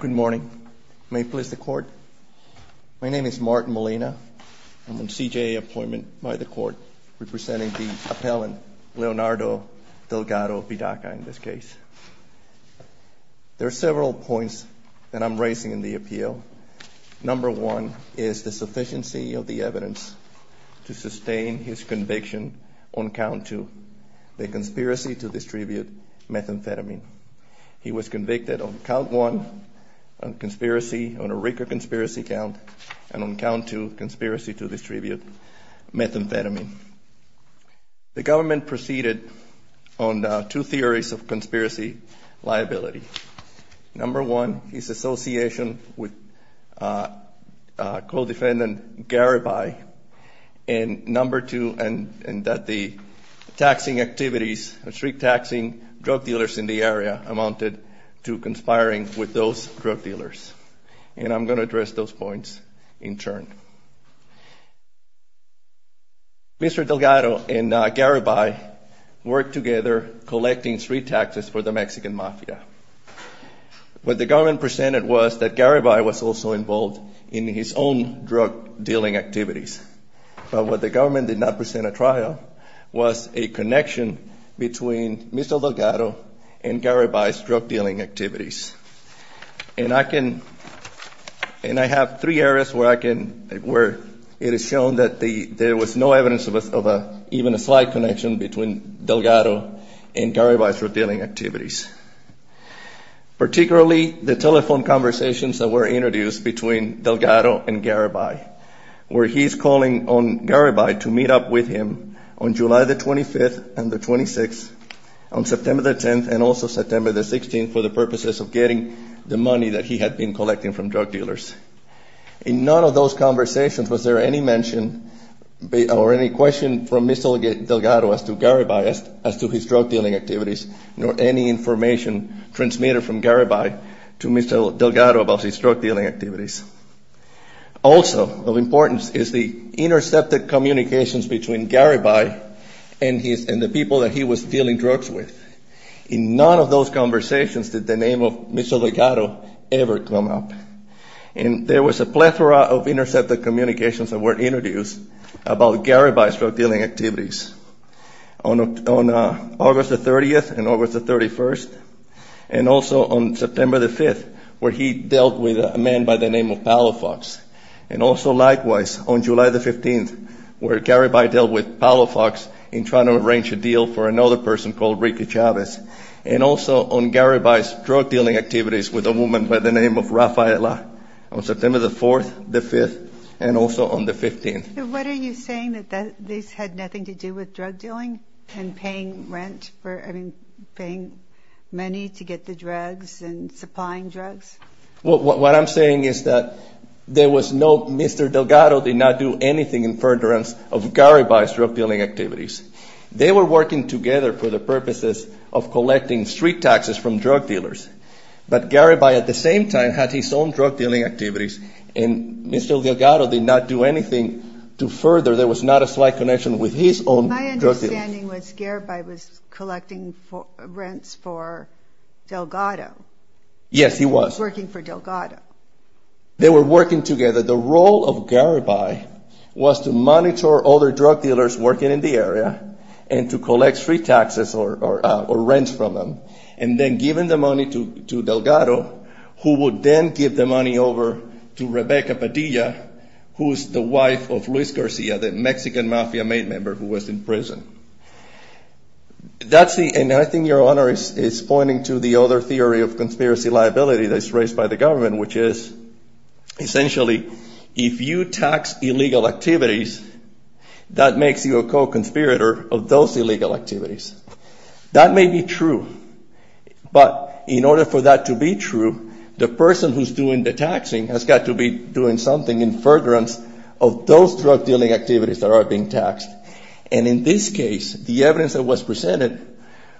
Good morning. May it please the court. My name is Martin Molina. I'm on CJA appointment by the court representing the appellant Leonardo Delgado-Pidaca in this case. There are several points that I'm raising in the appeal. Number one is the sufficiency of the evidence to sustain his conviction on count two, the conspiracy to distribute methamphetamine. He was convicted on count one, on a RICO conspiracy count, and on count two, conspiracy to distribute methamphetamine. The government proceeded on two theories of conspiracy liability. Number one is association with co-defendant Garibay, and number two, and that the taxing activities, street taxing drug dealers in the area amounted to conspiring with those drug dealers. And I'm going to address those points in turn. Mr. Delgado and Garibay worked together collecting street taxes for the Mexican mafia. What the government presented was that Garibay was also involved in his own drug dealing activities. But what the government did not present at trial was a connection between Mr. Delgado and Garibay's drug dealing activities. And I can, and I have three areas where I can, where it is shown that there was no evidence of even a slight connection between Delgado and Garibay's drug dealing activities. Particularly the telephone conversations that were introduced between Delgado and Garibay, where he's calling on Garibay to meet up with him on July the 25th and the 26th, on September the 10th, and also September the 16th, for the purposes of getting the money that he had been collecting from drug dealers. In none of those conversations was there any mention or any question from Mr. Delgado as to Garibay, as to his drug dealing activities, nor any information transmitted from Garibay to Mr. Delgado about his drug dealing activities. Also of importance is the intercepted communications between Garibay and the people that he was dealing drugs with. In none of those conversations did the name of Mr. Delgado ever come up. And there was a plethora of intercepted communications that were introduced about Garibay's drug dealing activities. On August the 30th and August the 31st, and also on September the 5th, where he dealt with a man by the name of Palofox. And also likewise, on July the 15th, where Garibay dealt with Palofox in trying to arrange a deal for another person called Ricky Chavez. And also on Garibay's drug dealing activities with a woman by the name of Rafaela, on September the 4th, the 5th, and also on the 15th. What are you saying, that this had nothing to do with drug dealing and paying rent for, I mean, paying money to get the drugs and supplying drugs? Well, what I'm saying is that there was no, Mr. Delgado did not do anything in furtherance of Garibay's drug dealing activities. They were working together for the purposes of collecting street taxes from drug dealers. But Garibay at the same time had his own drug dealing activities, and Mr. Delgado did not do anything to further, there was not a slight connection with his own drug dealers. My understanding was Garibay was collecting rents for Delgado. Yes, he was. Working for Delgado. They were working together. The role of Garibay was to monitor other drug dealers working in the area, and to collect street taxes or rents from them, and then giving the money to Delgado, who would then give the money over to Rebecca Padilla, who is the wife of Luis Garcia, the Mexican mafia main member who was in prison. That's the, and I think your honor is pointing to the other theory of conspiracy liability that's raised by the government, which is essentially, if you tax illegal activities, that makes you a co-conspirator of those illegal activities. That may be true, but in order for that to be true, the person who's doing the taxing has got to be doing something in furtherance of those drug dealing activities that are being taxed. And in this case, the evidence that was presented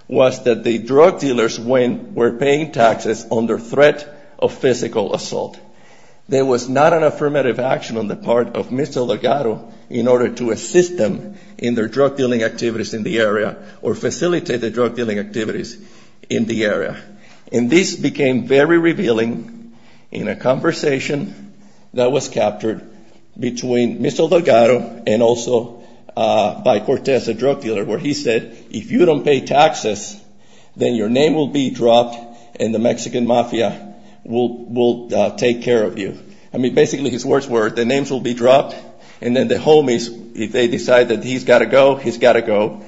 was that the drug dealers were paying taxes under threat of physical assault. There was not an affirmative action on the part of Mr. Delgado in order to assist them in their drug dealing activities in the area, or facilitate their drug dealing activities in the area. And this became very revealing in a conversation that was captured between Mr. Delgado and also by Cortez, a drug dealer, where he said, if you don't pay taxes, then your name will be dropped, and the Mexican mafia will take care of you. I mean, basically his words were, the names will be dropped, and then the homies, if they decide that he's got to go, he's got to go,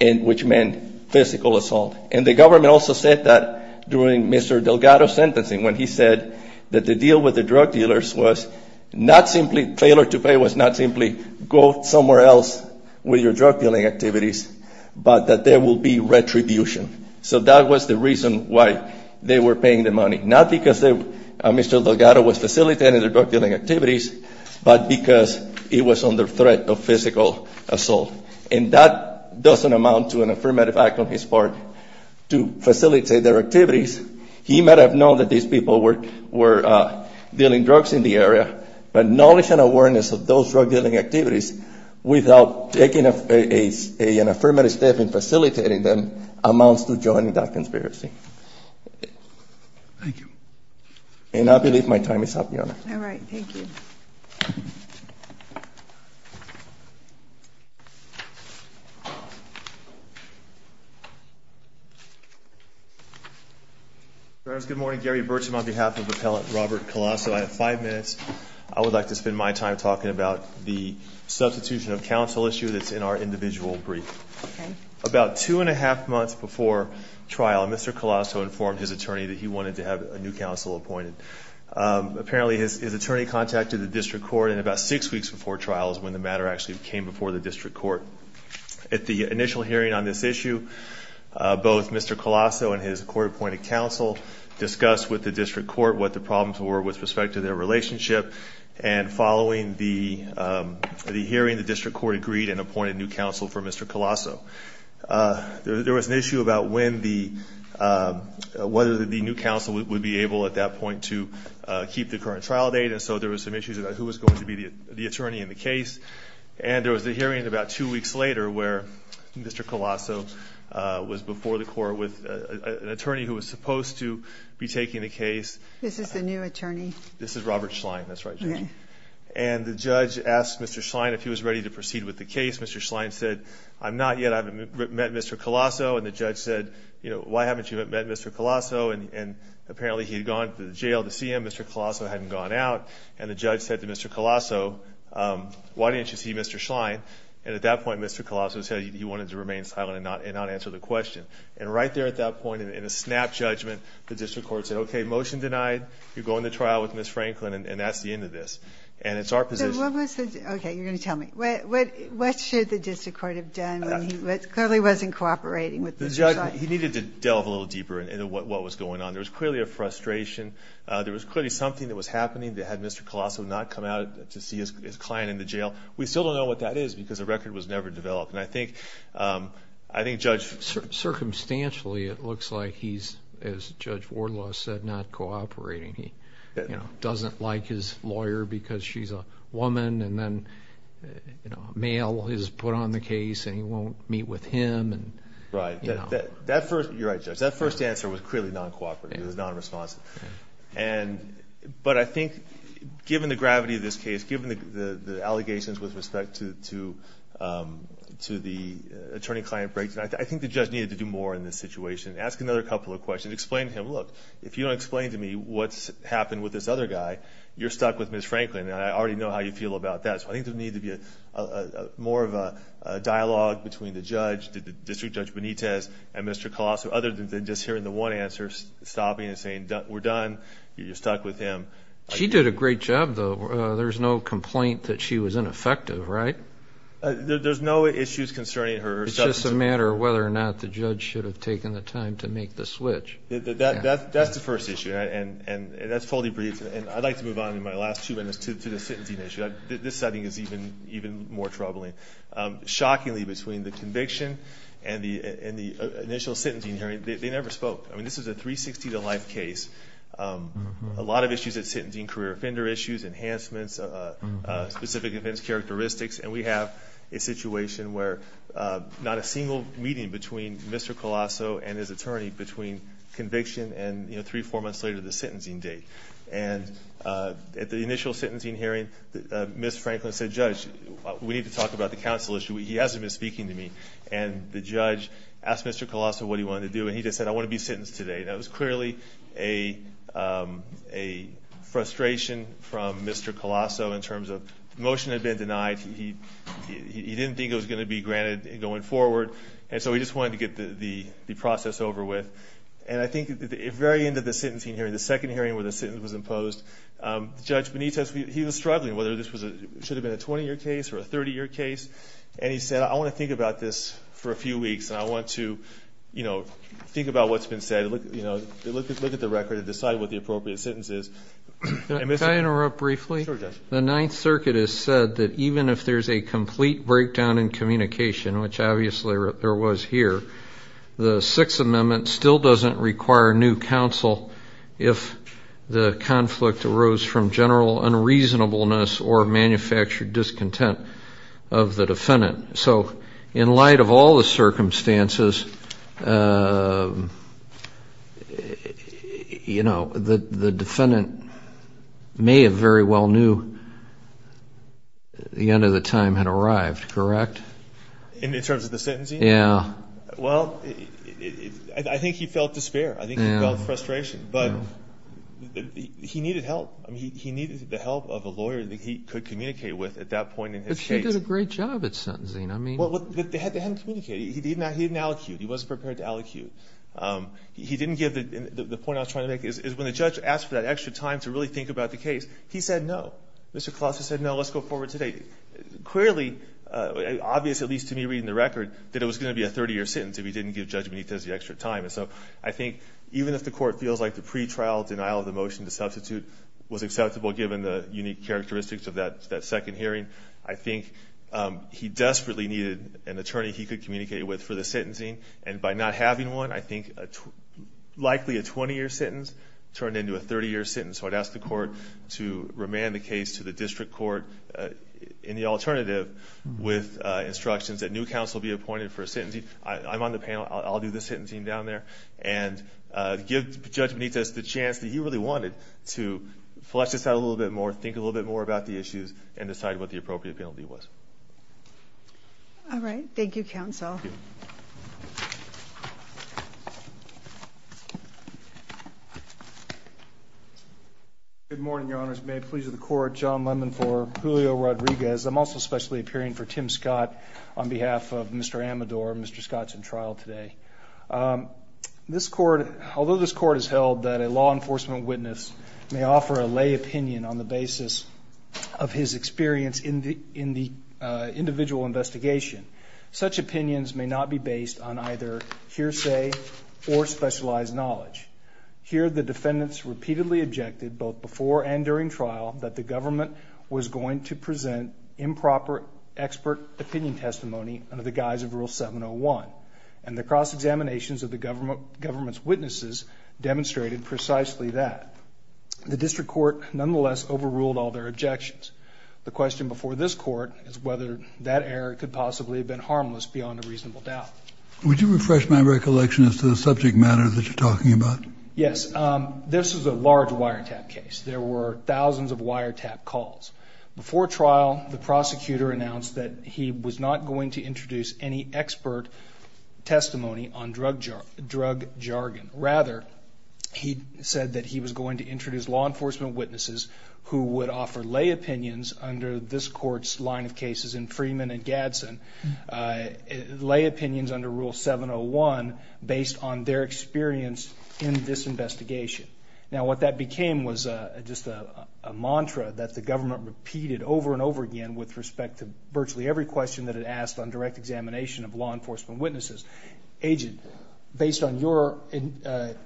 which meant physical assault. And the government also said that during Mr. Delgado's sentencing, when he said that the deal with the drug dealers was not simply failure to pay, was not simply go somewhere else with your drug dealing activities, but that there will be retribution. So that was the reason why they were paying the money. Not because Mr. Delgado was facilitating their drug dealing activities, but because it was under threat of physical assault. And that doesn't amount to an affirmative act on his part to facilitate their activities. He might have known that these people were dealing drugs in the area, but knowledge and awareness of those drug dealing activities without taking an affirmative step in facilitating them amounts to joining that conspiracy. Thank you. And I believe my time is up, Your Honor. All right. Thank you. Good morning. Gary Bertram on behalf of Appellant Robert Colasso. I have five minutes. I would like to spend my time talking about the substitution of counsel issue that's in our individual brief. Okay. About two and a half months before trial, Mr. Colasso informed his attorney that he wanted to have a new counsel appointed. Apparently, his attorney contacted the district court, and about six weeks before trial is when the matter actually came before the district court. At the initial hearing on this issue, both Mr. Colasso and his court-appointed counsel discussed with the district court what the problems were with respect to their relationship. And following the hearing, the district court agreed and appointed new counsel for Mr. Colasso. There was an issue about whether the new counsel would be able at that point to keep the current trial date, and so there were some issues about who was going to be the attorney in the case. And there was a hearing about two weeks later where Mr. Colasso was before the court with an attorney who was supposed to be taking the case. This is the new attorney? This is Robert Schlein. That's right, Judge. And the judge asked Mr. Schlein if he was ready to proceed with the case. Mr. Schlein said, I'm not yet. I haven't met Mr. Colasso. And the judge said, you know, why haven't you met Mr. Colasso? And apparently, he had gone to the jail to see him. Mr. Colasso hadn't gone out. And the judge said to Mr. Colasso, why didn't you see Mr. Schlein? And at that point, Mr. Colasso said he wanted to remain silent and not answer the question. And right there at that point, in a snap judgment, the district court said, okay, motion denied. You're going to trial with Ms. Franklin, and that's the end of this. And it's our position. Okay, you're going to tell me. What should the district court have done when he clearly wasn't cooperating with Mr. Schlein? He needed to delve a little deeper into what was going on. There was clearly a frustration. There was clearly something that was happening that had Mr. Colasso not come out to see his client in the jail. We still don't know what that is because the record was never developed. Circumstantially, it looks like he's, as Judge Wardlaw said, not cooperating. He doesn't like his lawyer because she's a woman. And then a male is put on the case, and he won't meet with him. You're right, Judge. That first answer was clearly non-cooperative. It was non-responsive. But I think given the gravity of this case, given the allegations with respect to the attorney-client breakdown, I think the judge needed to do more in this situation. Ask another couple of questions. Explain to him, look, if you don't explain to me what's happened with this other guy, you're stuck with Ms. Franklin, and I already know how you feel about that. So I think there needs to be more of a dialogue between the judge, District Judge Benitez, and Mr. Colasso, other than just hearing the one answer, stopping and saying, we're done, you're stuck with him. She did a great job, though. There's no complaint that she was ineffective, right? There's no issues concerning her. It's just a matter of whether or not the judge should have taken the time to make the switch. That's the first issue, and that's totally brief. And I'd like to move on in my last two minutes to the sentencing issue. This setting is even more troubling. Shockingly, between the conviction and the initial sentencing hearing, they never spoke. I mean, this is a 360-to-life case. A lot of issues at sentencing, career offender issues, enhancements, specific offense characteristics, and we have a situation where not a single meeting between Mr. Colasso and his attorney, between conviction and three or four months later, the sentencing date. And at the initial sentencing hearing, Ms. Franklin said, Judge, we need to talk about the counsel issue. He hasn't been speaking to me. And the judge asked Mr. Colasso what he wanted to do, and he just said, I want to be sentenced today. That was clearly a frustration from Mr. Colasso in terms of the motion had been denied. He didn't think it was going to be granted going forward, and so he just wanted to get the process over with. And I think at the very end of the sentencing hearing, the second hearing where the sentence was imposed, Judge Benitez, he was struggling whether this should have been a 20-year case or a 30-year case, and he said, I want to think about this for a few weeks, and I want to, you know, think about what's been said. Look at the record and decide what the appropriate sentence is. Can I interrupt briefly? Sure, Judge. The Ninth Circuit has said that even if there's a complete breakdown in communication, which obviously there was here, the Sixth Amendment still doesn't require new counsel if the conflict arose from general unreasonableness or manufactured discontent of the defendant. So in light of all the circumstances, you know, the defendant may have very well knew the end of the time had arrived, correct? In terms of the sentencing? Yeah. Well, I think he felt despair. I think he felt frustration. But he needed help. He needed the help of a lawyer that he could communicate with at that point in his case. But he did a great job at sentencing. They hadn't communicated. He didn't allocute. He wasn't prepared to allocute. He didn't give the point I was trying to make is when the judge asked for that extra time to really think about the case, he said no. Mr. Klausner said, no, let's go forward today. Clearly, obvious at least to me reading the record, that it was going to be a 30-year sentence if he didn't give Judge Benitez the extra time. And so I think even if the Court feels like the pretrial denial of the motion to substitute was acceptable given the unique characteristics of that second hearing, I think he desperately needed an attorney he could communicate with for the sentencing. And by not having one, I think likely a 20-year sentence turned into a 30-year sentence. So I'd ask the Court to remand the case to the district court in the alternative with instructions that new counsel be appointed for a sentencing. I'm on the panel. I'll do the sentencing down there. And give Judge Benitez the chance that he really wanted to flesh this out a little bit more, think a little bit more about the issues, and decide what the appropriate penalty was. All right. Thank you, counsel. Good morning, Your Honors. May it please the Court, John Lemon IV, Julio Rodriguez. I'm also specially appearing for Tim Scott on behalf of Mr. Amador. Mr. Scott's in trial today. Although this Court has held that a law enforcement witness may offer a lay opinion on the basis of his experience in the individual investigation, such opinions may not be based on either hearsay or specialized knowledge. Here, the defendants repeatedly objected both before and during trial that the government was going to present improper expert opinion testimony under the guise of Rule 701. And the cross-examinations of the government's witnesses demonstrated precisely that. The district court, nonetheless, overruled all their objections. The question before this Court is whether that error could possibly have been harmless beyond a reasonable doubt. Would you refresh my recollection as to the subject matter that you're talking about? Yes. This is a large wiretap case. There were thousands of wiretap calls. Before trial, the prosecutor announced that he was not going to introduce any expert testimony on drug jargon. Rather, he said that he was going to introduce law enforcement witnesses who would offer lay opinions under this Court's line of cases in Freeman and Gadsden, lay opinions under Rule 701 based on their experience in this investigation. Now, what that became was just a mantra that the government repeated over and over again with respect to virtually every question that it asked on direct examination of law enforcement witnesses. Agent, based on your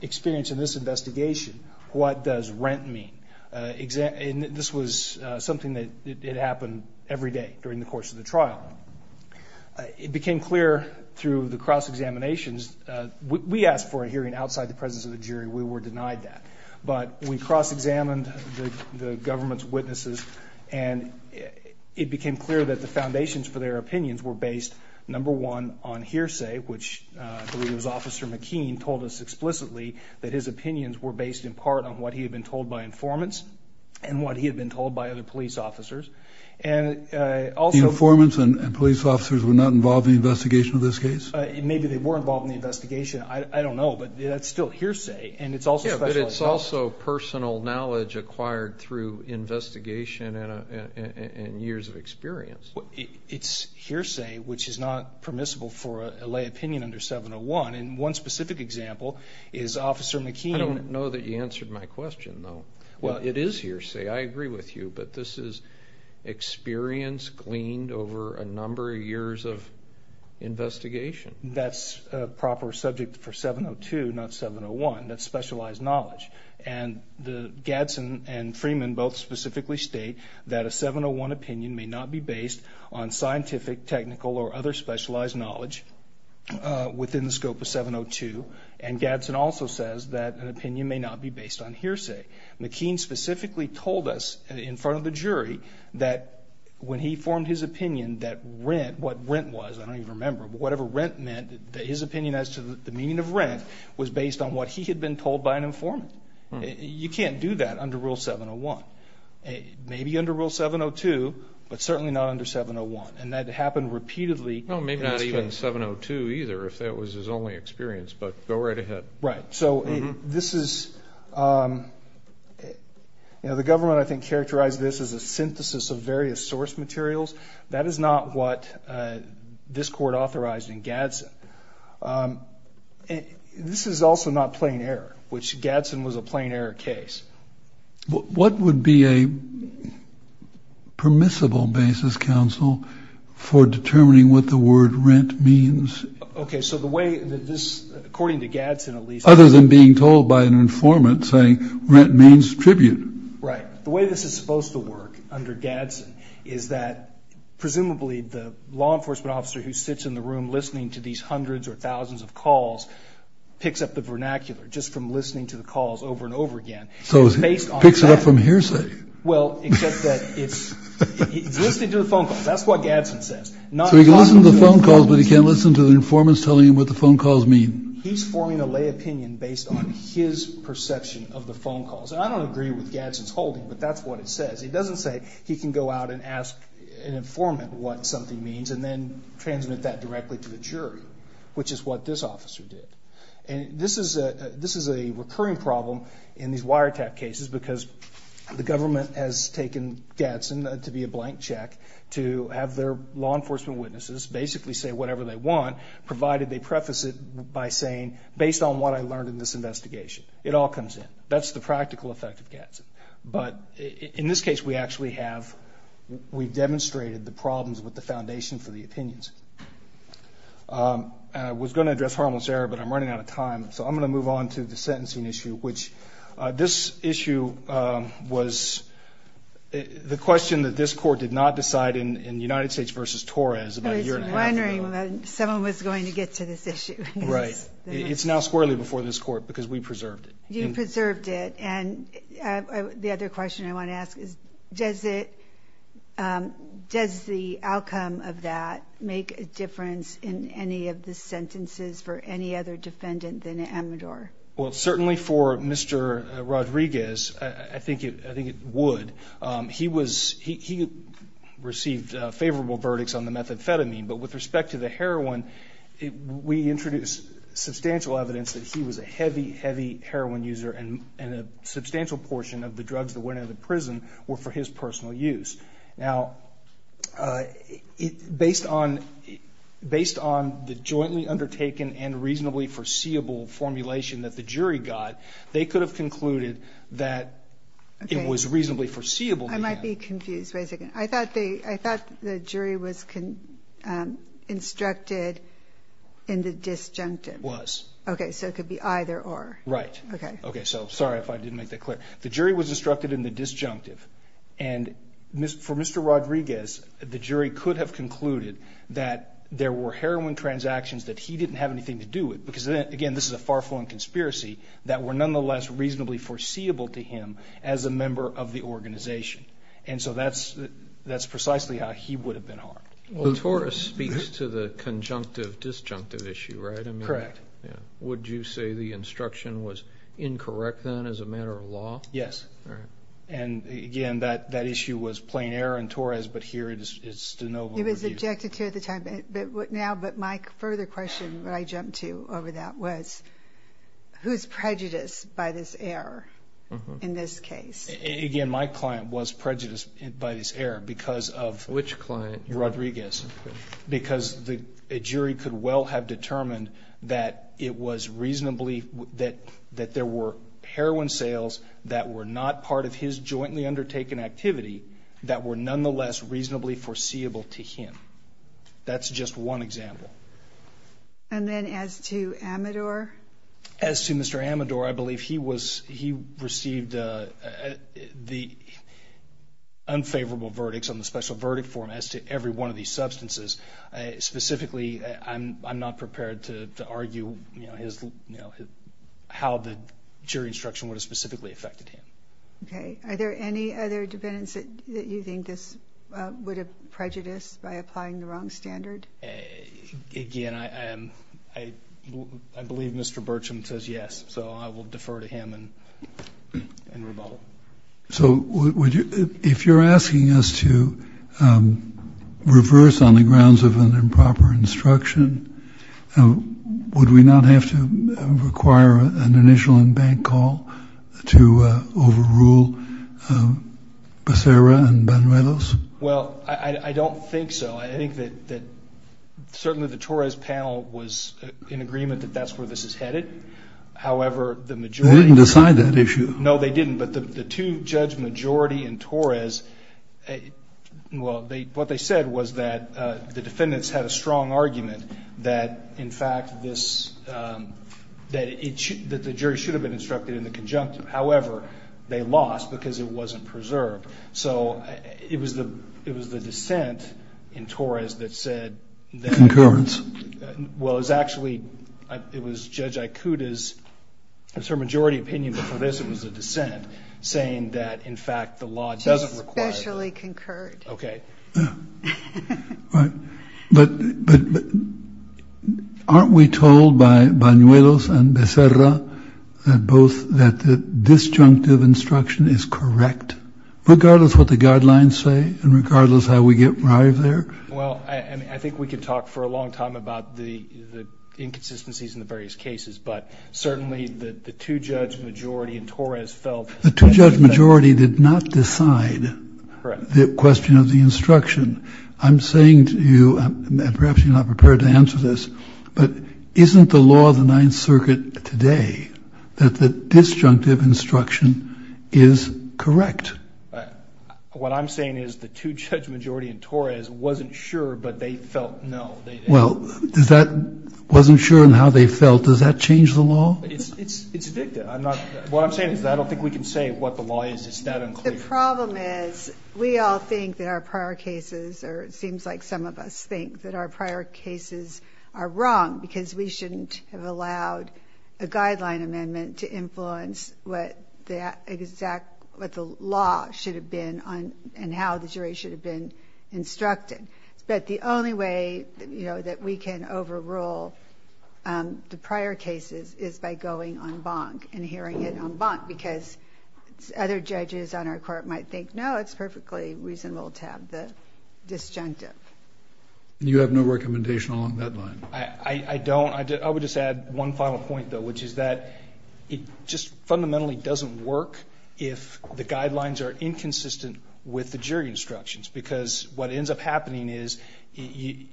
experience in this investigation, what does rent mean? And this was something that happened every day during the course of the trial. It became clear through the cross-examinations. We were denied that. But we cross-examined the government's witnesses, and it became clear that the foundations for their opinions were based, number one, on hearsay, which is what Officer McKean told us explicitly, that his opinions were based in part on what he had been told by informants and what he had been told by other police officers. The informants and police officers were not involved in the investigation of this case? Maybe they were involved in the investigation. I don't know, but that's still hearsay, and it's also special knowledge. Yeah, but it's also personal knowledge acquired through investigation and years of experience. It's hearsay, which is not permissible for a lay opinion under 701, and one specific example is Officer McKean. I don't know that you answered my question, though. Well, it is hearsay. I agree with you, but this is experience gleaned over a number of years of investigation. That's a proper subject for 702, not 701. That's specialized knowledge, and Gadsden and Freeman both specifically state that a 701 opinion may not be based on scientific, technical, or other specialized knowledge within the scope of 702, and Gadsden also says that an opinion may not be based on hearsay. McKean specifically told us in front of the jury that when he formed his opinion, that what rent was, I don't even remember, but whatever rent meant, his opinion as to the meaning of rent, was based on what he had been told by an informant. You can't do that under Rule 701. Maybe under Rule 702, but certainly not under 701, and that happened repeatedly. No, maybe not even 702 either, if that was his only experience, but go right ahead. Right, so this is, you know, the government, I think, characterized this as a synthesis of various source materials. That is not what this court authorized in Gadsden. This is also not plain error, which Gadsden was a plain error case. What would be a permissible basis, counsel, for determining what the word rent means? Okay, so the way that this, according to Gadsden at least. Other than being told by an informant saying rent means tribute. Right. The way this is supposed to work under Gadsden is that, presumably, the law enforcement officer who sits in the room listening to these hundreds or thousands of calls picks up the vernacular just from listening to the calls over and over again. So he picks it up from hearsay. Well, except that it's, he's listening to the phone calls. That's what Gadsden says. So he can listen to the phone calls, but he can't listen to the informants telling him what the phone calls mean. He's forming a lay opinion based on his perception of the phone calls. And I don't agree with Gadsden's holding, but that's what it says. It doesn't say he can go out and ask an informant what something means and then transmit that directly to the jury, which is what this officer did. And this is a recurring problem in these wiretap cases because the government has taken Gadsden to be a blank check to have their law enforcement witnesses basically say whatever they want, provided they preface it by saying, based on what I learned in this investigation. It all comes in. That's the practical effect of Gadsden. But in this case, we actually have, we've demonstrated the problems with the foundation for the opinions. And I was going to address harmless error, but I'm running out of time. So I'm going to move on to the sentencing issue, which this issue was the question that this court did not decide in United States versus Torres about a year and a half ago. I was wondering when someone was going to get to this issue. Right. It's now squarely before this court because we preserved it. You preserved it. And the other question I want to ask is, does the outcome of that make a difference in any of the sentences for any other defendant than Amador? Well, certainly for Mr. Rodriguez, I think it would. He received favorable verdicts on the methamphetamine, but with respect to the heroin, we introduced substantial evidence that he was a heavy, heavy heroin user, and a substantial portion of the drugs that went into the prison were for his personal use. Now, based on the jointly undertaken and reasonably foreseeable formulation that the jury got, they could have concluded that it was reasonably foreseeable. I might be confused. Wait a second. I thought the jury was instructed in the disjunctive. Was. Okay, so it could be either or. Right. Okay. Okay, so sorry if I didn't make that clear. The jury was instructed in the disjunctive. And for Mr. Rodriguez, the jury could have concluded that there were heroin transactions that he didn't have anything to do with because, again, this is a far-flung conspiracy that were nonetheless reasonably foreseeable to him as a member of the organization. And so that's precisely how he would have been harmed. Well, Torres speaks to the conjunctive disjunctive issue, right? Correct. Yeah. Would you say the instruction was incorrect then as a matter of law? Yes. All right. And again, that issue was plain error in Torres, but here it's de novo. It was objected to at the time, but now, but my further question when I jumped to over that was, who's prejudiced by this error in this case? Again, my client was prejudiced by this error because of. Which client? Rodriguez. Okay. Because the jury could well have determined that it was reasonably, that there were heroin sales that were not part of his jointly undertaken activity that were nonetheless reasonably foreseeable to him. That's just one example. And then as to Amador? As to Mr. Amador, I believe he was, he received the unfavorable verdicts on the special verdict form as to every one of these substances. Specifically, I'm not prepared to argue how the jury instruction would have specifically affected him. Okay. Are there any other defendants that you think this would have prejudiced by applying the wrong standard? Again, I believe Mr. Burcham says yes, so I will defer to him and rebuttal. So if you're asking us to reverse on the grounds of an improper instruction, would we not have to require an initial and bank call to overrule Becerra and Banrelos? Well, I don't think so. I think that certainly the Torres panel was in agreement that that's where this is headed. However, the majority. They didn't decide that issue. No, they didn't. But the two judge majority in Torres, well, what they said was that the defendants had a strong argument that, in fact, that the jury should have been instructed in the conjunctive. However, they lost because it wasn't preserved. So it was the dissent in Torres that said that. Concurrence. Well, it was actually, it was Judge Aikuda's, it was her majority opinion before this, it was a dissent saying that, in fact, the law doesn't require. It was specially concurred. Okay. But aren't we told by Banrelos and Becerra that both, that the disjunctive instruction is correct, regardless what the guidelines say and regardless how we get right there? Well, I mean, I think we could talk for a long time about the inconsistencies in the various cases, but certainly the two judge majority in Torres felt. The two judge majority did not decide the question of the instruction. I'm saying to you, and perhaps you're not prepared to answer this, but isn't the law of the Ninth Circuit today that the disjunctive instruction is correct? What I'm saying is the two judge majority in Torres wasn't sure, but they felt no. Well, does that, wasn't sure in how they felt. Does that change the law? It's, it's, it's a victim. I'm not, what I'm saying is that I don't think we can say what the law is. It's that unclear. The problem is we all think that our prior cases, or it seems like some of us think that our prior cases are wrong because we shouldn't have allowed a guideline amendment to influence what the exact, what the law should have been on and how the jury should have been instructed. But the only way that, you know, that we can overrule the prior cases is by going on bonk and hearing it on bonk because other judges on our court might think, no, it's perfectly reasonable to have the disjunctive. You have no recommendation along that line. I don't. I would just add one final point though, which is that it just fundamentally doesn't work. If the guidelines are inconsistent with the jury instructions, because what ends up happening is you,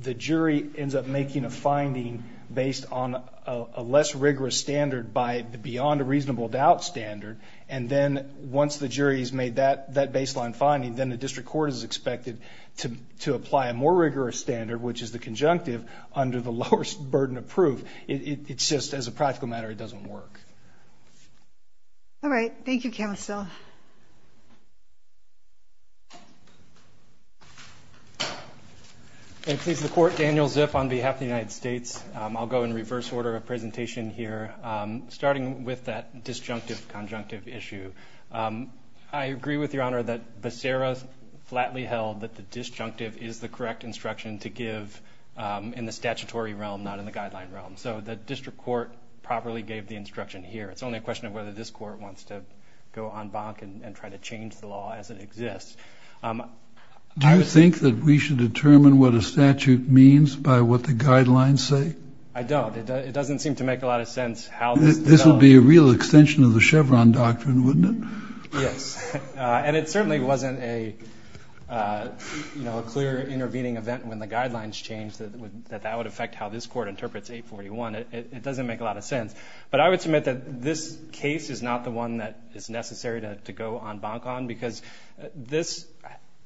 the jury ends up making a finding based on a less rigorous standard by the beyond a reasonable doubt standard. And then once the jury has made that, that baseline finding, then the district court is expected to, to apply a more rigorous standard, which is the conjunctive under the lowest burden of proof. So it's just as a practical matter, it doesn't work. All right. Thank you. And please, the court Daniel Zip on behalf of the United States. I'll go in reverse order of presentation here. Starting with that disjunctive conjunctive issue. I agree with your honor that the Sarah's flatly held that the disjunctive is the correct instruction to give in the statutory realm, not in the guideline realm. So the district court properly gave the instruction here. It's only a question of whether this court wants to go on bonk and try to change the law as it exists. Do you think that we should determine what a statute means by what the guidelines say? I don't. It doesn't seem to make a lot of sense how this will be a real extension of the Chevron doctrine, wouldn't it? Yes. And it certainly wasn't a, you know, a clear intervening event when the guidelines changed that would, would affect how this court interprets eight 41. It doesn't make a lot of sense, but I would submit that this case is not the one that is necessary to, to go on bonk on because this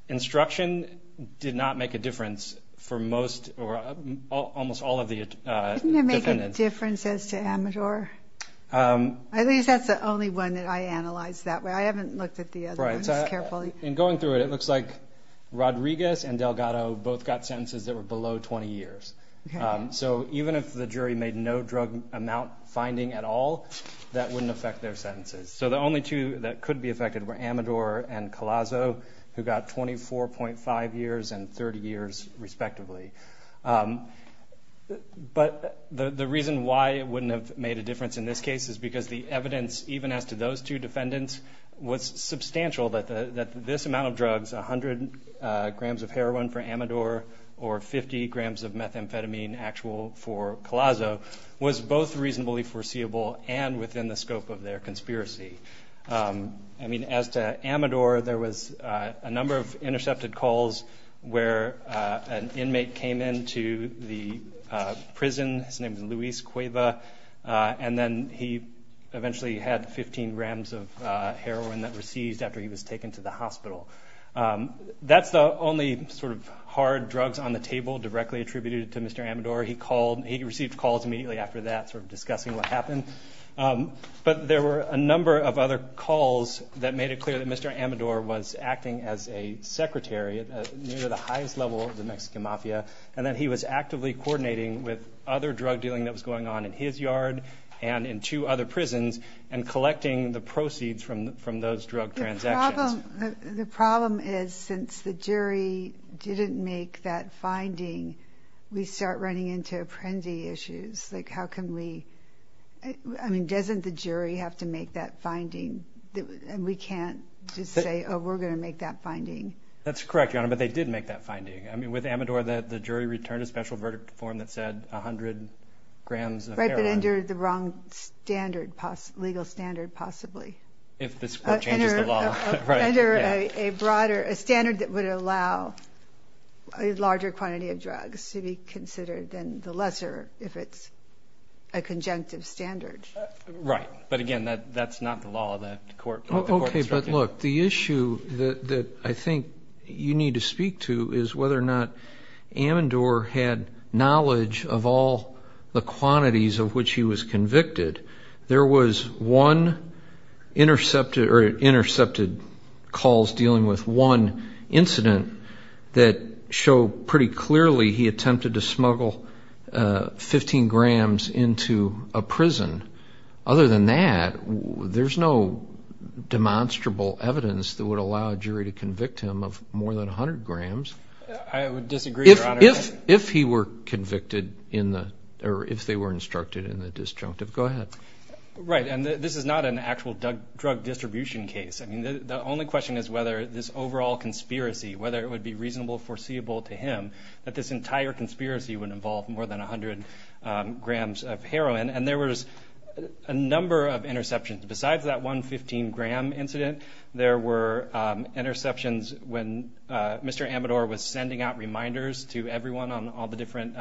instruction did not make a difference for most or almost all of the, uh, make a difference as to amateur. Um, at least that's the only one that I analyzed that way. I haven't looked at the other ones carefully. And going through it, it looks like Rodriguez and Delgado both got sentences that were below 20 years. Um, so even if the jury made no drug amount finding at all, that wouldn't affect their sentences. So the only two that could be affected were Amador and Colasso who got 24.5 years and 30 years respectively. Um, but the, the reason why it wouldn't have made a difference in this case is because the evidence even as to those two defendants was substantial that the, that this amount of drugs, a hundred grams of heroin for Amador or 50 grams of methamphetamine actual for Colasso was both reasonably foreseeable and within the scope of their conspiracy. Um, I mean, as to Amador, there was a number of intercepted calls where an inmate came into the prison. His name is Luis Cueva. Uh, and then he eventually had 15 grams of heroin that were seized after he was arrested. Um, that's the only sort of hard drugs on the table directly attributed to Mr. Amador. He called, he received calls immediately after that sort of discussing what happened. Um, but there were a number of other calls that made it clear that Mr. Amador was acting as a secretary at the highest level of the Mexican mafia. And then he was actively coordinating with other drug dealing that was going on in his yard and in two other prisons and collecting the proceeds from, from those drug transactions. Well, the problem is since the jury didn't make that finding, we start running into apprendi issues. Like how can we, I mean, doesn't the jury have to make that finding that we can't just say, Oh, we're going to make that finding. That's correct, Your Honor. But they did make that finding. I mean, with Amador that the jury returned a special verdict form that said a hundred grams of heroin. Under the wrong standard, legal standard possibly. If this court changes the law. Under a broader standard that would allow a larger quantity of drugs to be considered than the lesser, if it's a conjunctive standard. Right. But again, that, that's not the law of the court. Okay. But look, the issue that I think you need to speak to is whether or not Amador had knowledge of all the quantities of which he was convicted. There was one intercepted or intercepted calls dealing with one incident that show pretty clearly he attempted to smuggle 15 grams into a prison. Other than that, there's no demonstrable evidence that would allow a jury to convict him of more than a hundred grams. I would disagree. If he were convicted in the, or if they were instructed in the disjunctive, go ahead. Right. And this is not an actual drug distribution case. I mean, the only question is whether this overall conspiracy, whether it would be reasonable foreseeable to him that this entire conspiracy would involve more than a hundred grams of heroin. And there was a number of interceptions besides that one 15 gram incident. There were interceptions when Mr. Amador was sending out reminders to everyone on all the different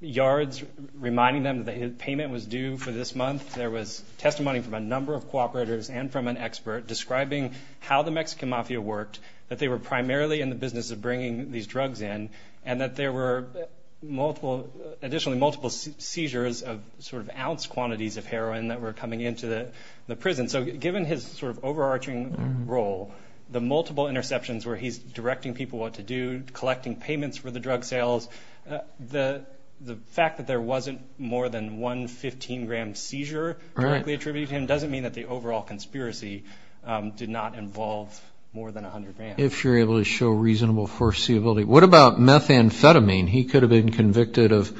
yards reminding them that his payment was due for this month. There was testimony from a number of cooperators and from an expert describing how the Mexican mafia worked, that they were primarily in the business of bringing these drugs in and that there were multiple, additionally multiple seizures of sort of ounce quantities of heroin that were coming into the prison. So given his sort of overarching role, the multiple interceptions where he's directing people, what to do collecting payments for the drug sales, the fact that there wasn't more than one 15 gram seizure directly attributed to him, doesn't mean that the overall conspiracy did not involve more than a hundred grams. If you're able to show reasonable foreseeability. What about methamphetamine? He could have been convicted of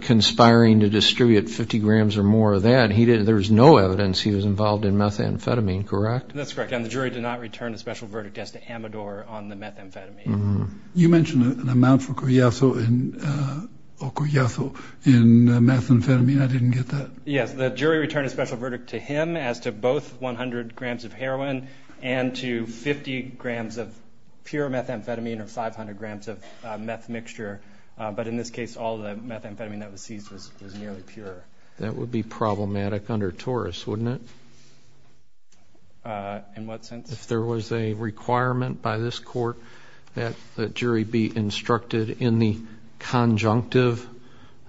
conspiring to distribute 50 grams or more of that. He didn't, there was no evidence he was involved in methamphetamine. Correct? That's correct. And the jury did not return a special verdict as to Amador on the methamphetamine. You mentioned an amount for Coyasso in methamphetamine. I didn't get that. Yes. The jury returned a special verdict to him as to both 100 grams of heroin and to 50 grams of pure methamphetamine or 500 grams of a meth mixture. But in this case, all the methamphetamine that was seized was nearly pure. That would be problematic under Taurus, wouldn't it? In what sense? If there was a requirement by this court that the jury be instructed in the conjunctive,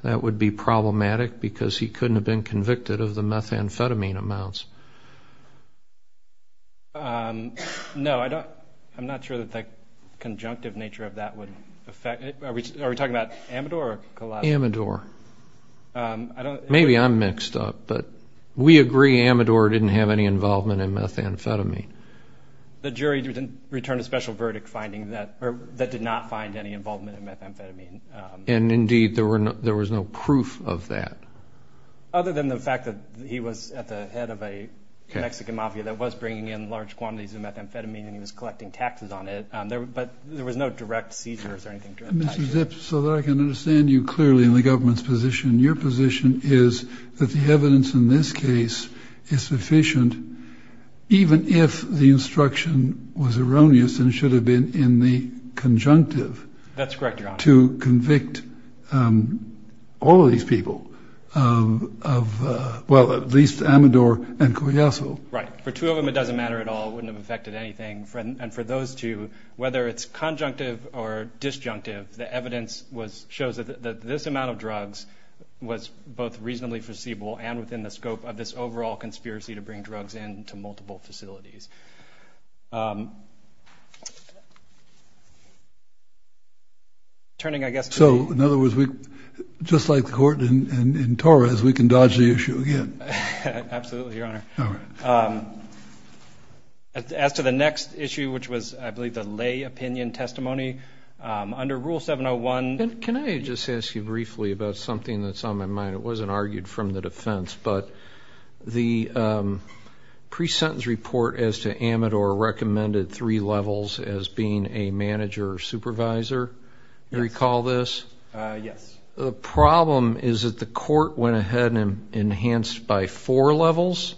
that would be problematic because he couldn't have been convicted of the methamphetamine amounts. No, I don't. I'm not sure that the conjunctive nature of that would affect it. Are we talking about Amador or Coyasso? Amador. Maybe I'm mixed up, but we agree Amador didn't have any involvement in methamphetamine. The jury didn't return a special verdict finding that or that did not find any involvement in methamphetamine. And indeed there were no, there was no proof of that. Other than the fact that he was at the head of a Mexican mafia that was bringing in large quantities of methamphetamine and he was collecting taxes on it. But there was no direct seizures or anything. Mr. Zips, so that I can understand you clearly in the government's position, your position is that the evidence in this case is sufficient. Even if the instruction was erroneous and it should have been in the conjunctive. That's correct. To convict all of these people of well, at least Amador and Coyasso. Right. For two of them, it doesn't matter at all wouldn't have affected anything. And for those two, whether it's conjunctive or disjunctive, the evidence was shows that this amount of drugs was both reasonably foreseeable and within the scope of this overall conspiracy to bring drugs into multiple facilities. Turning, I guess. So in other words, we just like the court in Torres, we can dodge the issue again. Absolutely. Your honor. All right. As to the next issue, which was, I believe the lay opinion testimony, under rule seven Oh one. Can I just ask you briefly about something that's on my mind? It wasn't argued from the defense, but the pre-sentence report as to Amador recommended three levels as being a manager or supervisor. You recall this? Yes. The problem is that the court went ahead and enhanced by four levels.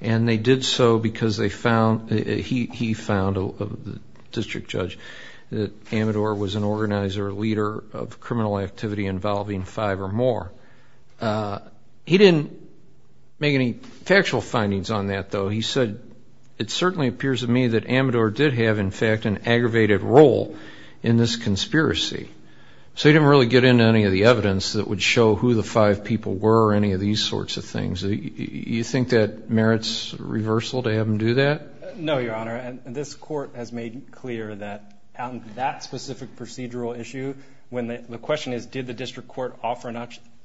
And they did so because they found he, he found the district judge that Amador was an organizer, a leader of criminal activity involving five or more. He didn't make any factual findings on that though. He said, it certainly appears to me that Amador did have, in fact, an aggravated role in this conspiracy. So he didn't really get into any of the evidence that would show who the five people were, any of these sorts of things that you think that merits reversal to have him do that. No, your honor. And this court has made clear that that specific procedural issue, when the question is, did the district court offer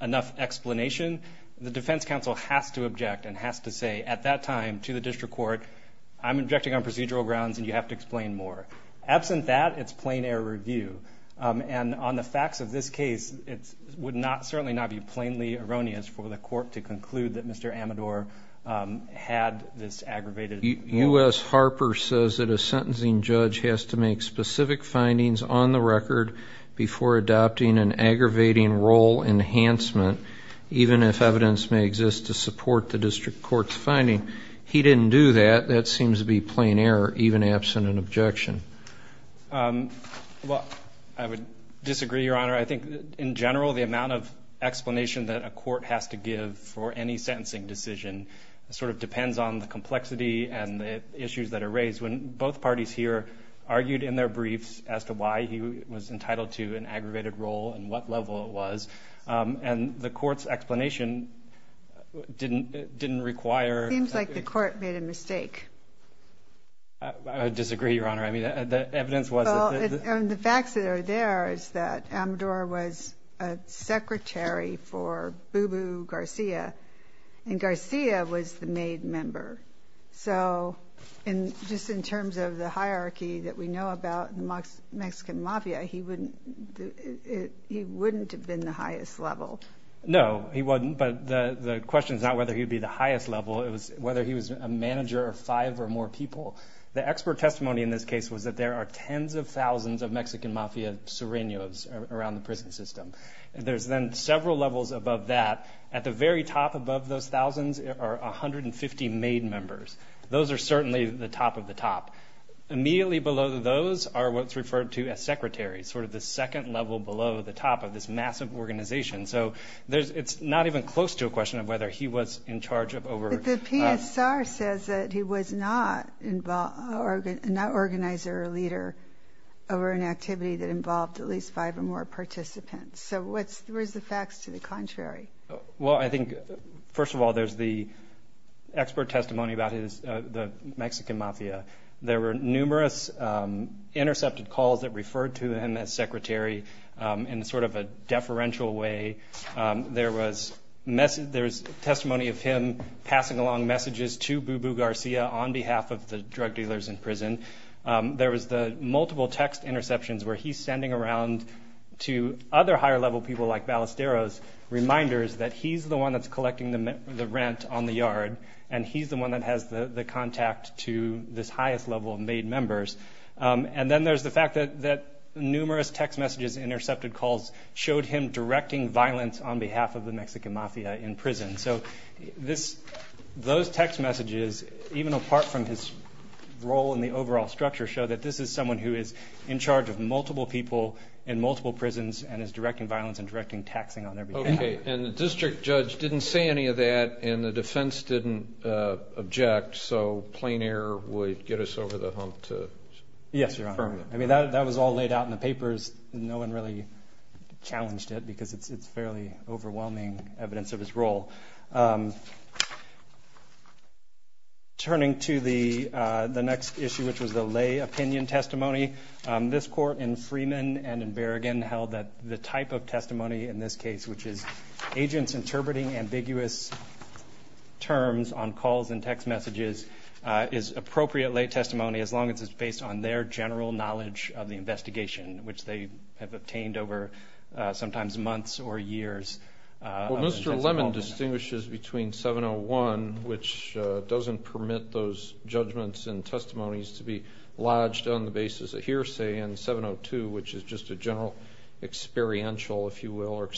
enough explanation? The defense council has to object and has to say at that time to the district court, I'm injecting on procedural grounds and you have to explain more absent that it's plain air review. And on the facts of this case, it's would not certainly not be plainly erroneous for the court to conclude that Mr. Amador had this aggravated us. Harper says that a sentencing judge has to make specific findings on the record before adopting an aggravating role enhancement, even if evidence may exist to support the district court's finding. He didn't do that. That seems to be plain air, even absent an objection. Well, I would disagree, your honor. I think in general, the amount of explanation that a court has to give for any sentencing decision sort of depends on the complexity and the issues that are raised when both parties here argued in their briefs as to why he was entitled to an aggravated role and what level it was. Um, and the court's explanation didn't, it didn't require, it seems like the court made a mistake. I disagree, your honor. I mean, the evidence was, and the facts that are there is that Amador was a secretary for Boo Boo Garcia and Garcia was the maid member. So in just in terms of the hierarchy that we know about the Mexican mafia, he wouldn't, he wouldn't have been the highest level. No, he wasn't. But the, the question is not whether he'd be the highest level. It was whether he was a manager or five or more people. The expert testimony in this case was that there are tens of thousands of Mexican mafia syringos around the prison system. And there's then several levels above that at the very top above those thousands are 150 made members. Those are certainly the top of the top immediately below those are what's referred to as secretary's sort of the second level below the top of this massive organization. So there's, it's not even close to a question of whether he was in charge of over. The PSR says that he was not involved or not organized or a leader over an activity that involved at least five or more participants. So what's the, where's the facts to the contrary? Well, I think first of all, there's the expert testimony about his, the Mexican mafia. There were numerous intercepted calls that referred to him as secretary in sort of a deferential way. There was message. There's testimony of him passing along messages to Boo Boo Garcia on behalf of the drug dealers in prison. There was the multiple text interceptions where he's standing around to other higher level people like Ballesteros reminders that he's the one that's collecting the rent on the yard. And he's the one that has the contact to this highest level of made members. And then there's the fact that, that numerous text messages, intercepted calls showed him directing violence on behalf of the Mexican mafia in prison. So this, those text messages, even apart from his role in the overall structure show that this is someone who is in charge of multiple people in multiple prisons and is directing violence and directing taxing on everything. And the district judge didn't say any of that. And the defense didn't object. So plain air would get us over the hump to. Yes, I mean, that was all laid out in the papers. No one really challenged it because it's, it's fairly overwhelming evidence of his role. Turning to the, the next issue, which was the lay opinion testimony, this court in Freeman and in Berrigan held that the type of testimony in this which is agents interpreting ambiguous terms on calls and text messages is appropriately testimony. As long as it's based on their general knowledge of the investigation, which they have obtained over sometimes months or years. Well, Mr. Lemon distinguishes between 701, which doesn't permit those judgments and testimonies to be lodged on the basis of hearsay and 702, which is just a general experiential, if you will, or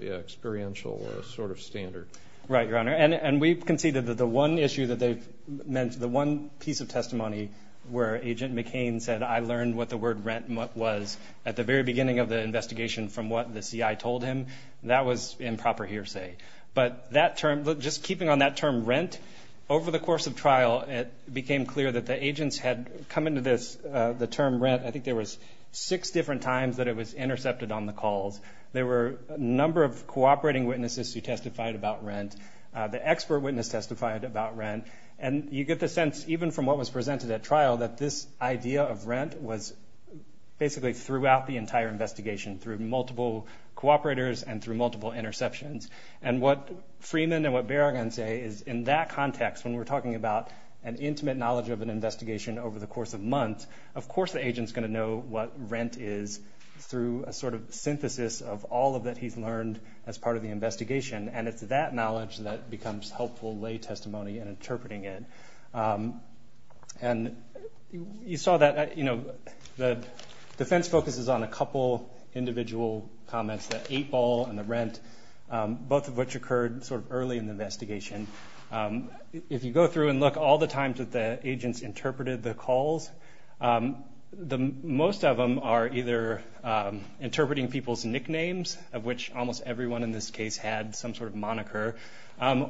experiential sort of standard. Right. Your honor. and we've conceded that the one issue that they've meant, the one piece of testimony where agent McCain said, I learned what the word rent was at the very beginning of the investigation from what the CI told him, that was improper hearsay, but that term, just keeping on that term rent over the course of trial, it became clear that the agents had come into this, the term rent. I think there was six different times that it was intercepted on the calls. There were a number of cooperating witnesses who testified about rent. The expert witness testified about rent. And you get the sense, even from what was presented at trial, that this idea of rent was basically throughout the entire investigation through multiple cooperators and through multiple interceptions. And what Freeman and what bear again say is in that context, when we're talking about an intimate knowledge of an investigation over the course of months, of course the agent's going to know what rent is through a sort of synthesis of all of that. He's learned as part of the investigation and it's that knowledge that becomes helpful lay testimony and interpreting it. And you saw that, you know, the defense focuses on a couple individual comments, that eight ball and the rent, both of which occurred sort of early in the investigation. If you go through and look all the times that the agents interpreted the calls, the most of them are either interpreting people's nicknames of which almost everyone in this case had some sort of moniker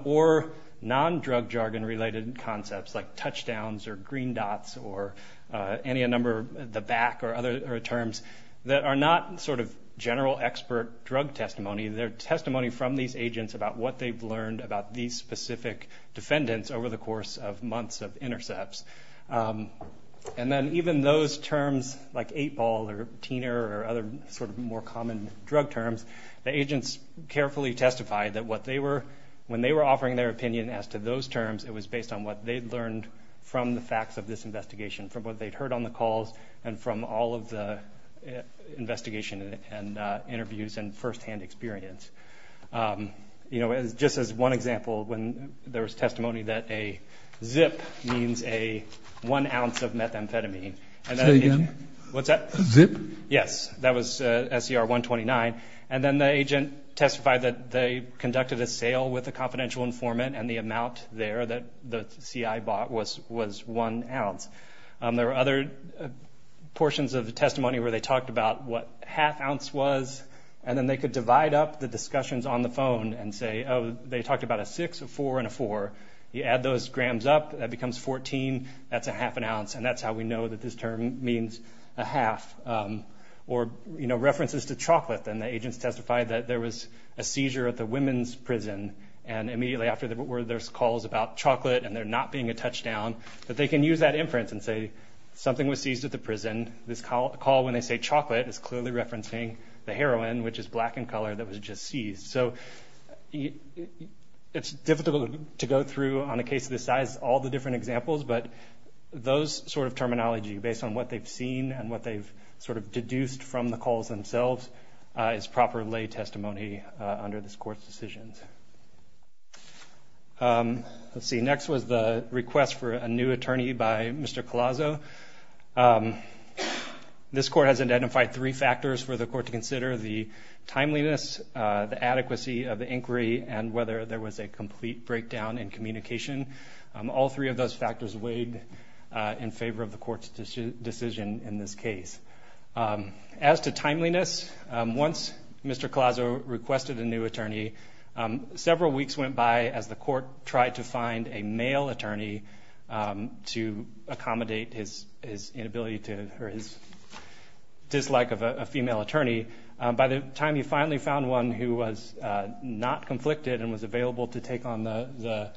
or non drug jargon related concepts like touchdowns or green dots or any, a number of the back or other terms that are not sort of general expert drug testimony. Their testimony from these agents about what they've learned about these specific defendants over the course of months of intercepts. And then even those terms like eight ball or Tina or other sort of more common drug terms, the agents carefully testified that what they were when they were offering their opinion as to those terms, it was based on what they'd learned from the facts of this investigation, from what they'd heard on the calls and from all of the investigation and interviews and firsthand experience. You know, as just as one example, when there was testimony that a zip means a one ounce of methamphetamine, what's that? Yes. That was a SCR one 29. And then the agent testified that they conducted a sale with a confidential informant and the amount there that the CI bought was, was one ounce. There were other portions of the testimony where they talked about what half ounce was, and then they could divide up the discussions on the phone and say, Oh, they talked about a six or four and a four. You add those grams up, that becomes 14. That's a half an ounce. And that's how we know that this term means a half or, you know, references to chocolate. Then the agents testified that there was a seizure at the women's prison. And immediately after that, where there's calls about chocolate and they're not being a touchdown, but they can use that inference and say something was seized at the prison. This call call, when they say chocolate is clearly referencing the heroin, which is black and color that was just seized. So it's difficult to go through on a case of the size, all the different examples, but those sort of terminology based on what they've seen and what they've sort of deduced from the calls themselves is proper lay testimony under this court's decisions. Let's see. Next was the request for a new attorney by Mr. Coloso. This court has identified three factors for the court to consider the timeliness, the adequacy of the inquiry and whether there was a complete breakdown in communication. All three of those factors weighed in favor of the court's decision in this case. As to timeliness, once Mr. Coloso requested a new attorney several weeks went by as the court tried to find a male attorney to accommodate his, his inability to her, his dislike of a female attorney. By the time you finally found one who was not conflicted and was available to the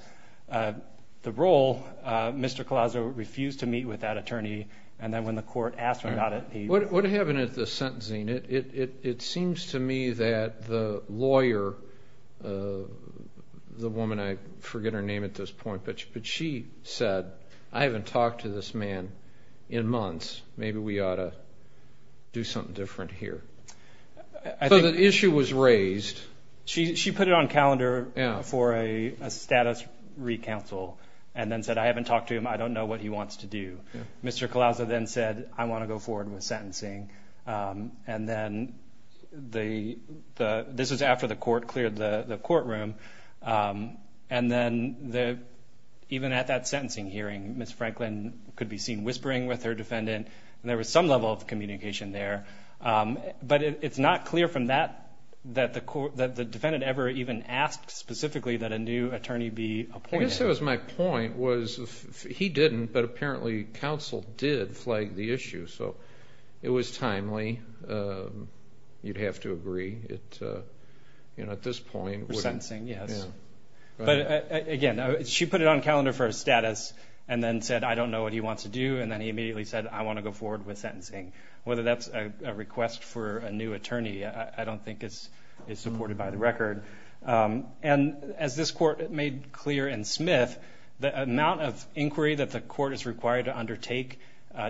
role, Mr. Coloso refused to meet with that attorney. And then when the court asked him about it, what happened at the sentencing? It seems to me that the lawyer, the woman, I forget her name at this point, but she said, I haven't talked to this man in months. Maybe we ought to do something different here. So the issue was raised. She, I haven't talked to him. I don't know what he wants to do. Mr. Coloso then said, I want to go forward with sentencing. And then the, the, this was after the court cleared the courtroom. And then the, even at that sentencing hearing, Ms. Franklin could be seen whispering with her defendant and there was some level of communication there. But it's not clear from that, that the court, that the defendant ever even asked specifically that a new attorney be appointed. I guess that was my point was he didn't, but apparently counsel did flag the issue. So it was timely. You'd have to agree. It, you know, at this point we're sentencing. Yes. But again, she put it on calendar for status and then said, I don't know what he wants to do. And then he immediately said, I want to go forward with sentencing, whether that's a request for a new attorney. I don't think it's, it's supported by the record. And as this court made clear in Smith, the amount of inquiry that the court is required to undertake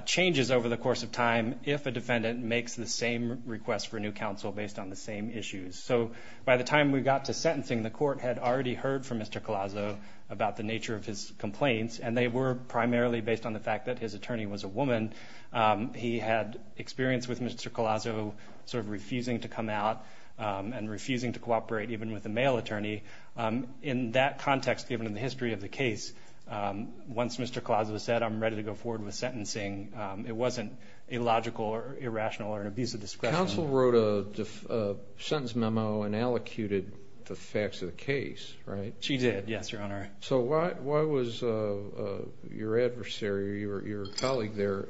changes over the course of time. If a defendant makes the same request for new counsel based on the same issues. So by the time we got to sentencing, the court had already heard from Mr. Colasso about the nature of his complaints. And they were primarily based on the fact that his attorney was a woman. Colasso sort of refusing to come out and refusing to cooperate, even with a male attorney in that context, given the history of the case. Once Mr. Colasso said, I'm ready to go forward with sentencing. It wasn't a logical or irrational or an abuse of discretion. Counsel wrote a sentence memo and allocated the facts of the case, right? She did. Yes, Your Honor. So why, why was your adversary or your colleague there?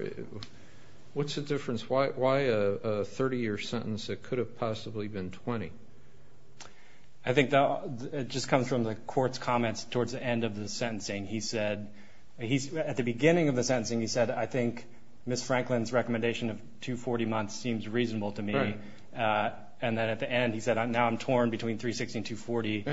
What's the difference? Why, why a 30 year sentence that could have possibly been 20? I think it just comes from the court's comments towards the end of the sentencing. He said, he's at the beginning of the sentencing. He said, I think Ms. Franklin's recommendation of two 40 months seems reasonable to me. And then at the end, he said, I'm now I'm torn between three 60 to 40.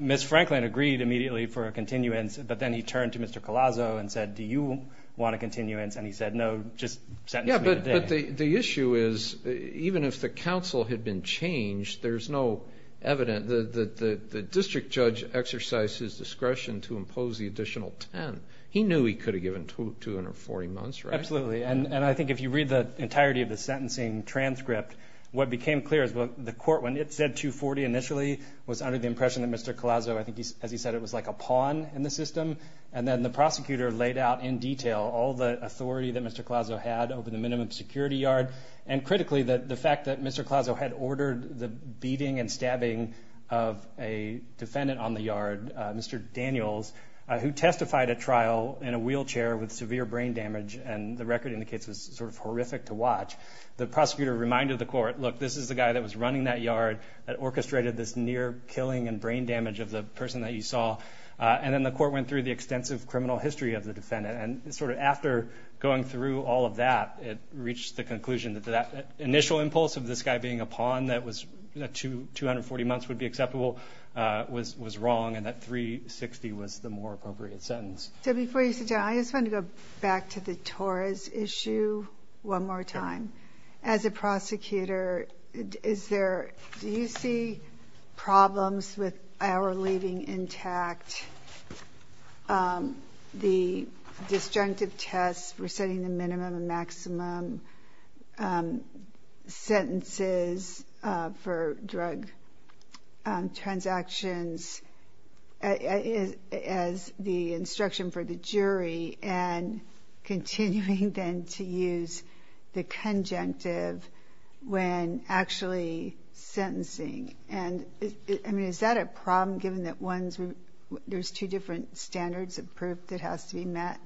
Ms. Franklin agreed immediately for a continuance, but then he turned to Mr. Colasso and said, do you want a continuance? And he said, no, just sentence. The issue is even if the council had been changed, there's no evidence. The, the, the district judge exercises discretion to impose the additional 10. He knew he could have given two, 240 months, right? Absolutely. And, and I think if you read the entirety of the sentencing transcript, what became clear as well, the court, when it said two 40 initially was under the impression that Mr. Colasso, I think he's, as he said, it was like a pawn in the system. And then the prosecutor laid out in detail, all the authority that Mr. Colasso had over the minimum security yard. And critically that the fact that Mr. Colasso had ordered the beating and stabbing of a defendant on the yard, Mr. Daniels, who testified at trial in a wheelchair with severe brain damage. And the record indicates was sort of horrific to watch. The prosecutor reminded the court, look, this is the guy that was running that yard that orchestrated this near killing and brain damage of the person that you saw. And then the court went through the extensive criminal history of the defendant. And sort of after going through all of that, it reached the conclusion that that initial impulse of this guy being a pawn, that was two, 240 months would be acceptable, uh, was, was wrong. And that three 60 was the more appropriate sentence. So before you sit down, I just want to go back to the Torres issue one more time. As a prosecutor, is there, do you see problems with our leaving intact? Um, the disjunctive tests, we're setting the minimum and maximum, um, sentences, uh, for drug, um, transactions. Uh, as the instruction for the jury and continuing then to use the conjunctive when actually sentencing. And I mean, is that a problem given that ones where there's two different standards of proof that has to be met?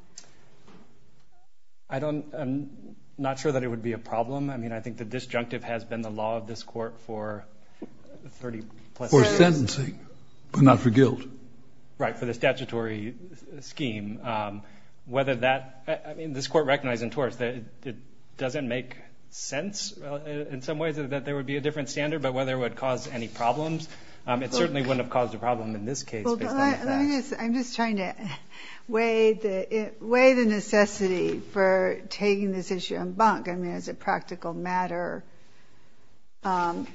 I don't, I'm not sure that it would be a problem. I mean, I think the disjunctive has been the law of this court for 30 plus sentencing, but not for guilt, right? For the statutory scheme. Um, whether that, I mean, this court recognized in Taurus that it doesn't make sense in some ways that there would be a different standard, but whether it would cause any problems. Um, it certainly wouldn't have caused a problem in this case. I'm just trying to weigh the, weigh the necessity for taking this issue on bunk. I mean, as a practical matter, um,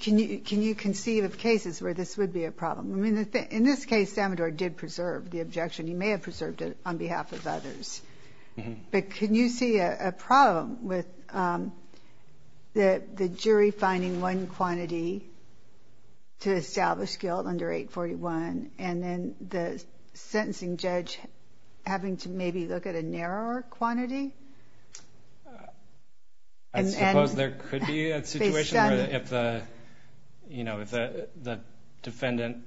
can you, can you conceive of cases where this would be a problem? I mean, in this case, Salvador did preserve the objection. He may have preserved it on behalf of others, but can you see a problem with, um, the, the jury finding one quantity to establish guilt under 841 and then the jury finding to maybe look at a narrower quantity? I suppose there could be a situation where if the, you know, if the defendant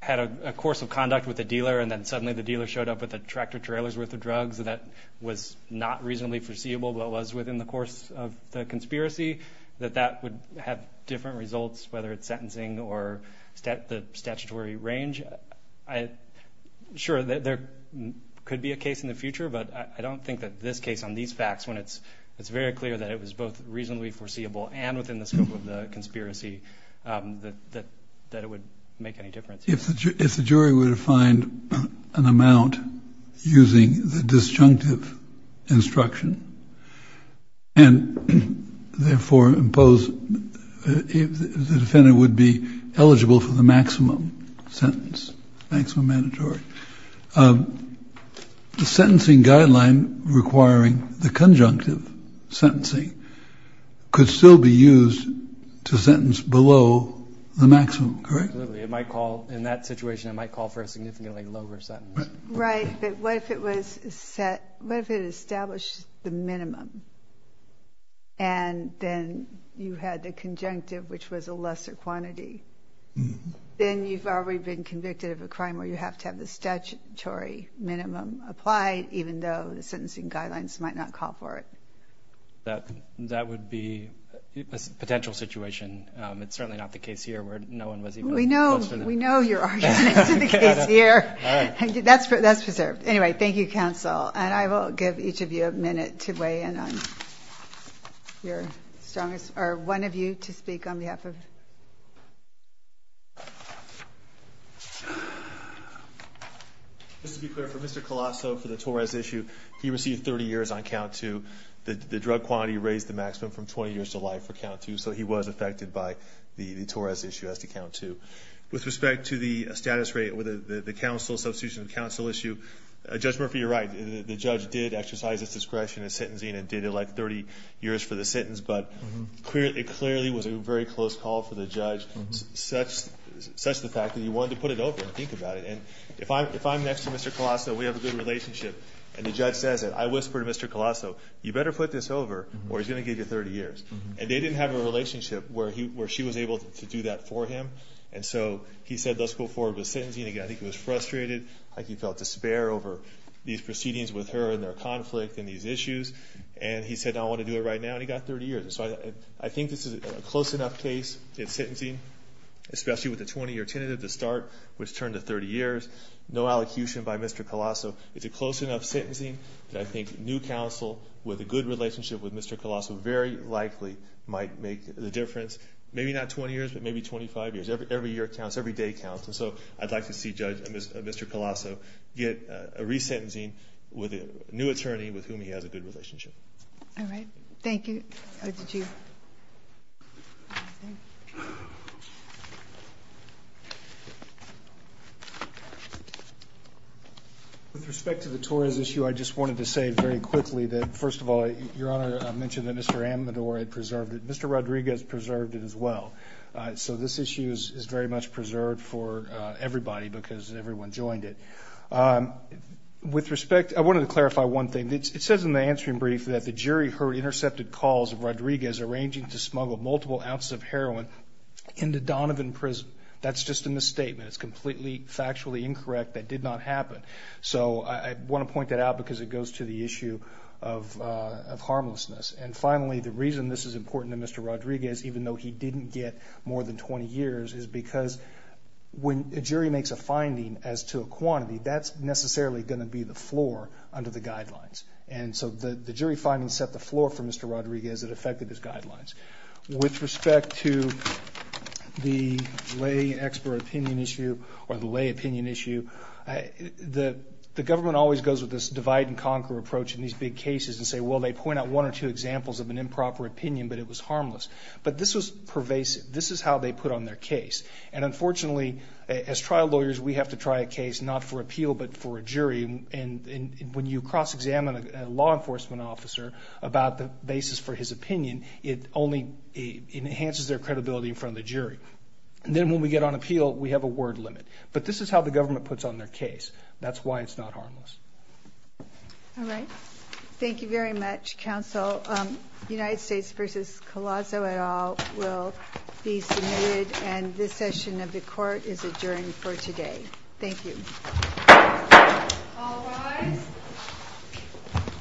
had a course of conduct with a dealer and then suddenly the dealer showed up with a tractor trailers worth of drugs that was not reasonably foreseeable, but it was within the course of the conspiracy that that would have different results, whether it's sentencing or stat, the statutory range. I, I'm sure that there could be a case in the future, but I don't think that this case on these facts, when it's, it's very clear that it was both reasonably foreseeable and within the scope of the conspiracy, um, that, that it would make any difference. If the jury, if the jury were to find an amount using the disjunctive instruction and therefore impose, if the defendant would be eligible for the maximum sentence, thanks for mandatory. Um, the sentencing guideline requiring the conjunctive sentencing could still be used to sentence below the maximum, correct? It might call in that situation. I might call for a significantly lower sentence, right? But what if it was set? What if it established the minimum? And then you had the conjunctive, which was a lesser quantity. Then you've already been convicted of a crime where you have to have the statutory minimum applied, even though the sentencing guidelines might not call for it. That, that would be a potential situation. Um, it's certainly not the case here where no one was. We know, we know you're here. That's for that's preserved. Anyway. Thank you counsel. And I will give each of you a minute to weigh in on your strongest, or one of you to speak on behalf of. Just to be clear for Mr. Colosso for the Torres issue, he received 30 years on count to the, the drug quantity raised the maximum from 20 years to life for count two. So he was affected by the Torres issue as to count to with respect to the status rate with the council substitution, the council issue, a judgment for your right. The judge did exercise his discretion and sentencing and did it like 30 years for the sentence. But clearly it clearly was a very close call for the judge, such as such the fact that he wanted to put it over and think about it. And if I'm, if I'm next to Mr. Colosso, we have a good relationship and the judge says it, I whispered to Mr. Colosso, you better put this over or he's going to give you 30 years. And they didn't have a relationship where he, where she was able to do that for him. And so he said, let's go forward with sentencing. Again, I think it was frustrated. Like he felt despair over these proceedings with her and their conflict and these issues. And he said, no, I want to do it right now. And he got 30 years. And so I think this is a close enough case. It's sentencing, especially with a 20 year tentative to start, which turned to 30 years, no allocution by Mr. Colosso. It's a close enough sentencing that I think new council with a good relationship with Mr. Colosso very likely might make the difference. Maybe not 20 years, but maybe 25 years, every year counts every day counts. And so I'd like to see judge Mr. Colosso get a resentencing with a new attorney with whom he has a good relationship. All right. Thank you. How did you. With respect to the Torres issue. I just wanted to say very quickly that, first of all, your honor mentioned that Mr. Amador had preserved it. Mr. Rodriguez preserved it as well. So this issue is very much preserved for everybody because everyone joined it. With respect. I wanted to clarify one thing. It says in the answering brief that the jury heard intercepted calls of Rodriguez arranging to smuggle multiple ounces of heroin into Donovan prison. That's just in the statement. It's completely factually incorrect. That did not happen. So I want to point that out because it goes to the issue of, of harmlessness. And finally, the reason this is important to Mr. Rodriguez, even though he didn't get more than 20 years is because when a jury makes a finding as to a quantity, that's necessarily going to be the floor under the guidelines. And so the, the jury findings set the floor for Mr. Rodriguez that affected his guidelines with respect to the lay expert opinion issue or the lay opinion issue. I, the, the government always goes with this divide and conquer approach in these big cases and say, well, they point out one or two examples of an improper opinion, but it was harmless, but this was pervasive. This is how they put on their case. And unfortunately, as trial lawyers, we have to try a case, not for appeal, but for a jury. And when you cross examine a law enforcement officer about the basis for his opinion, it only enhances their credibility in front of the jury. And then when we get on appeal, we have a word limit, but this is how the government puts on their case. That's why it's not harmless. All right. Thank you very much. Council United States versus Colossal at all will be submitted. And this session of the court is adjourned for today. Thank you.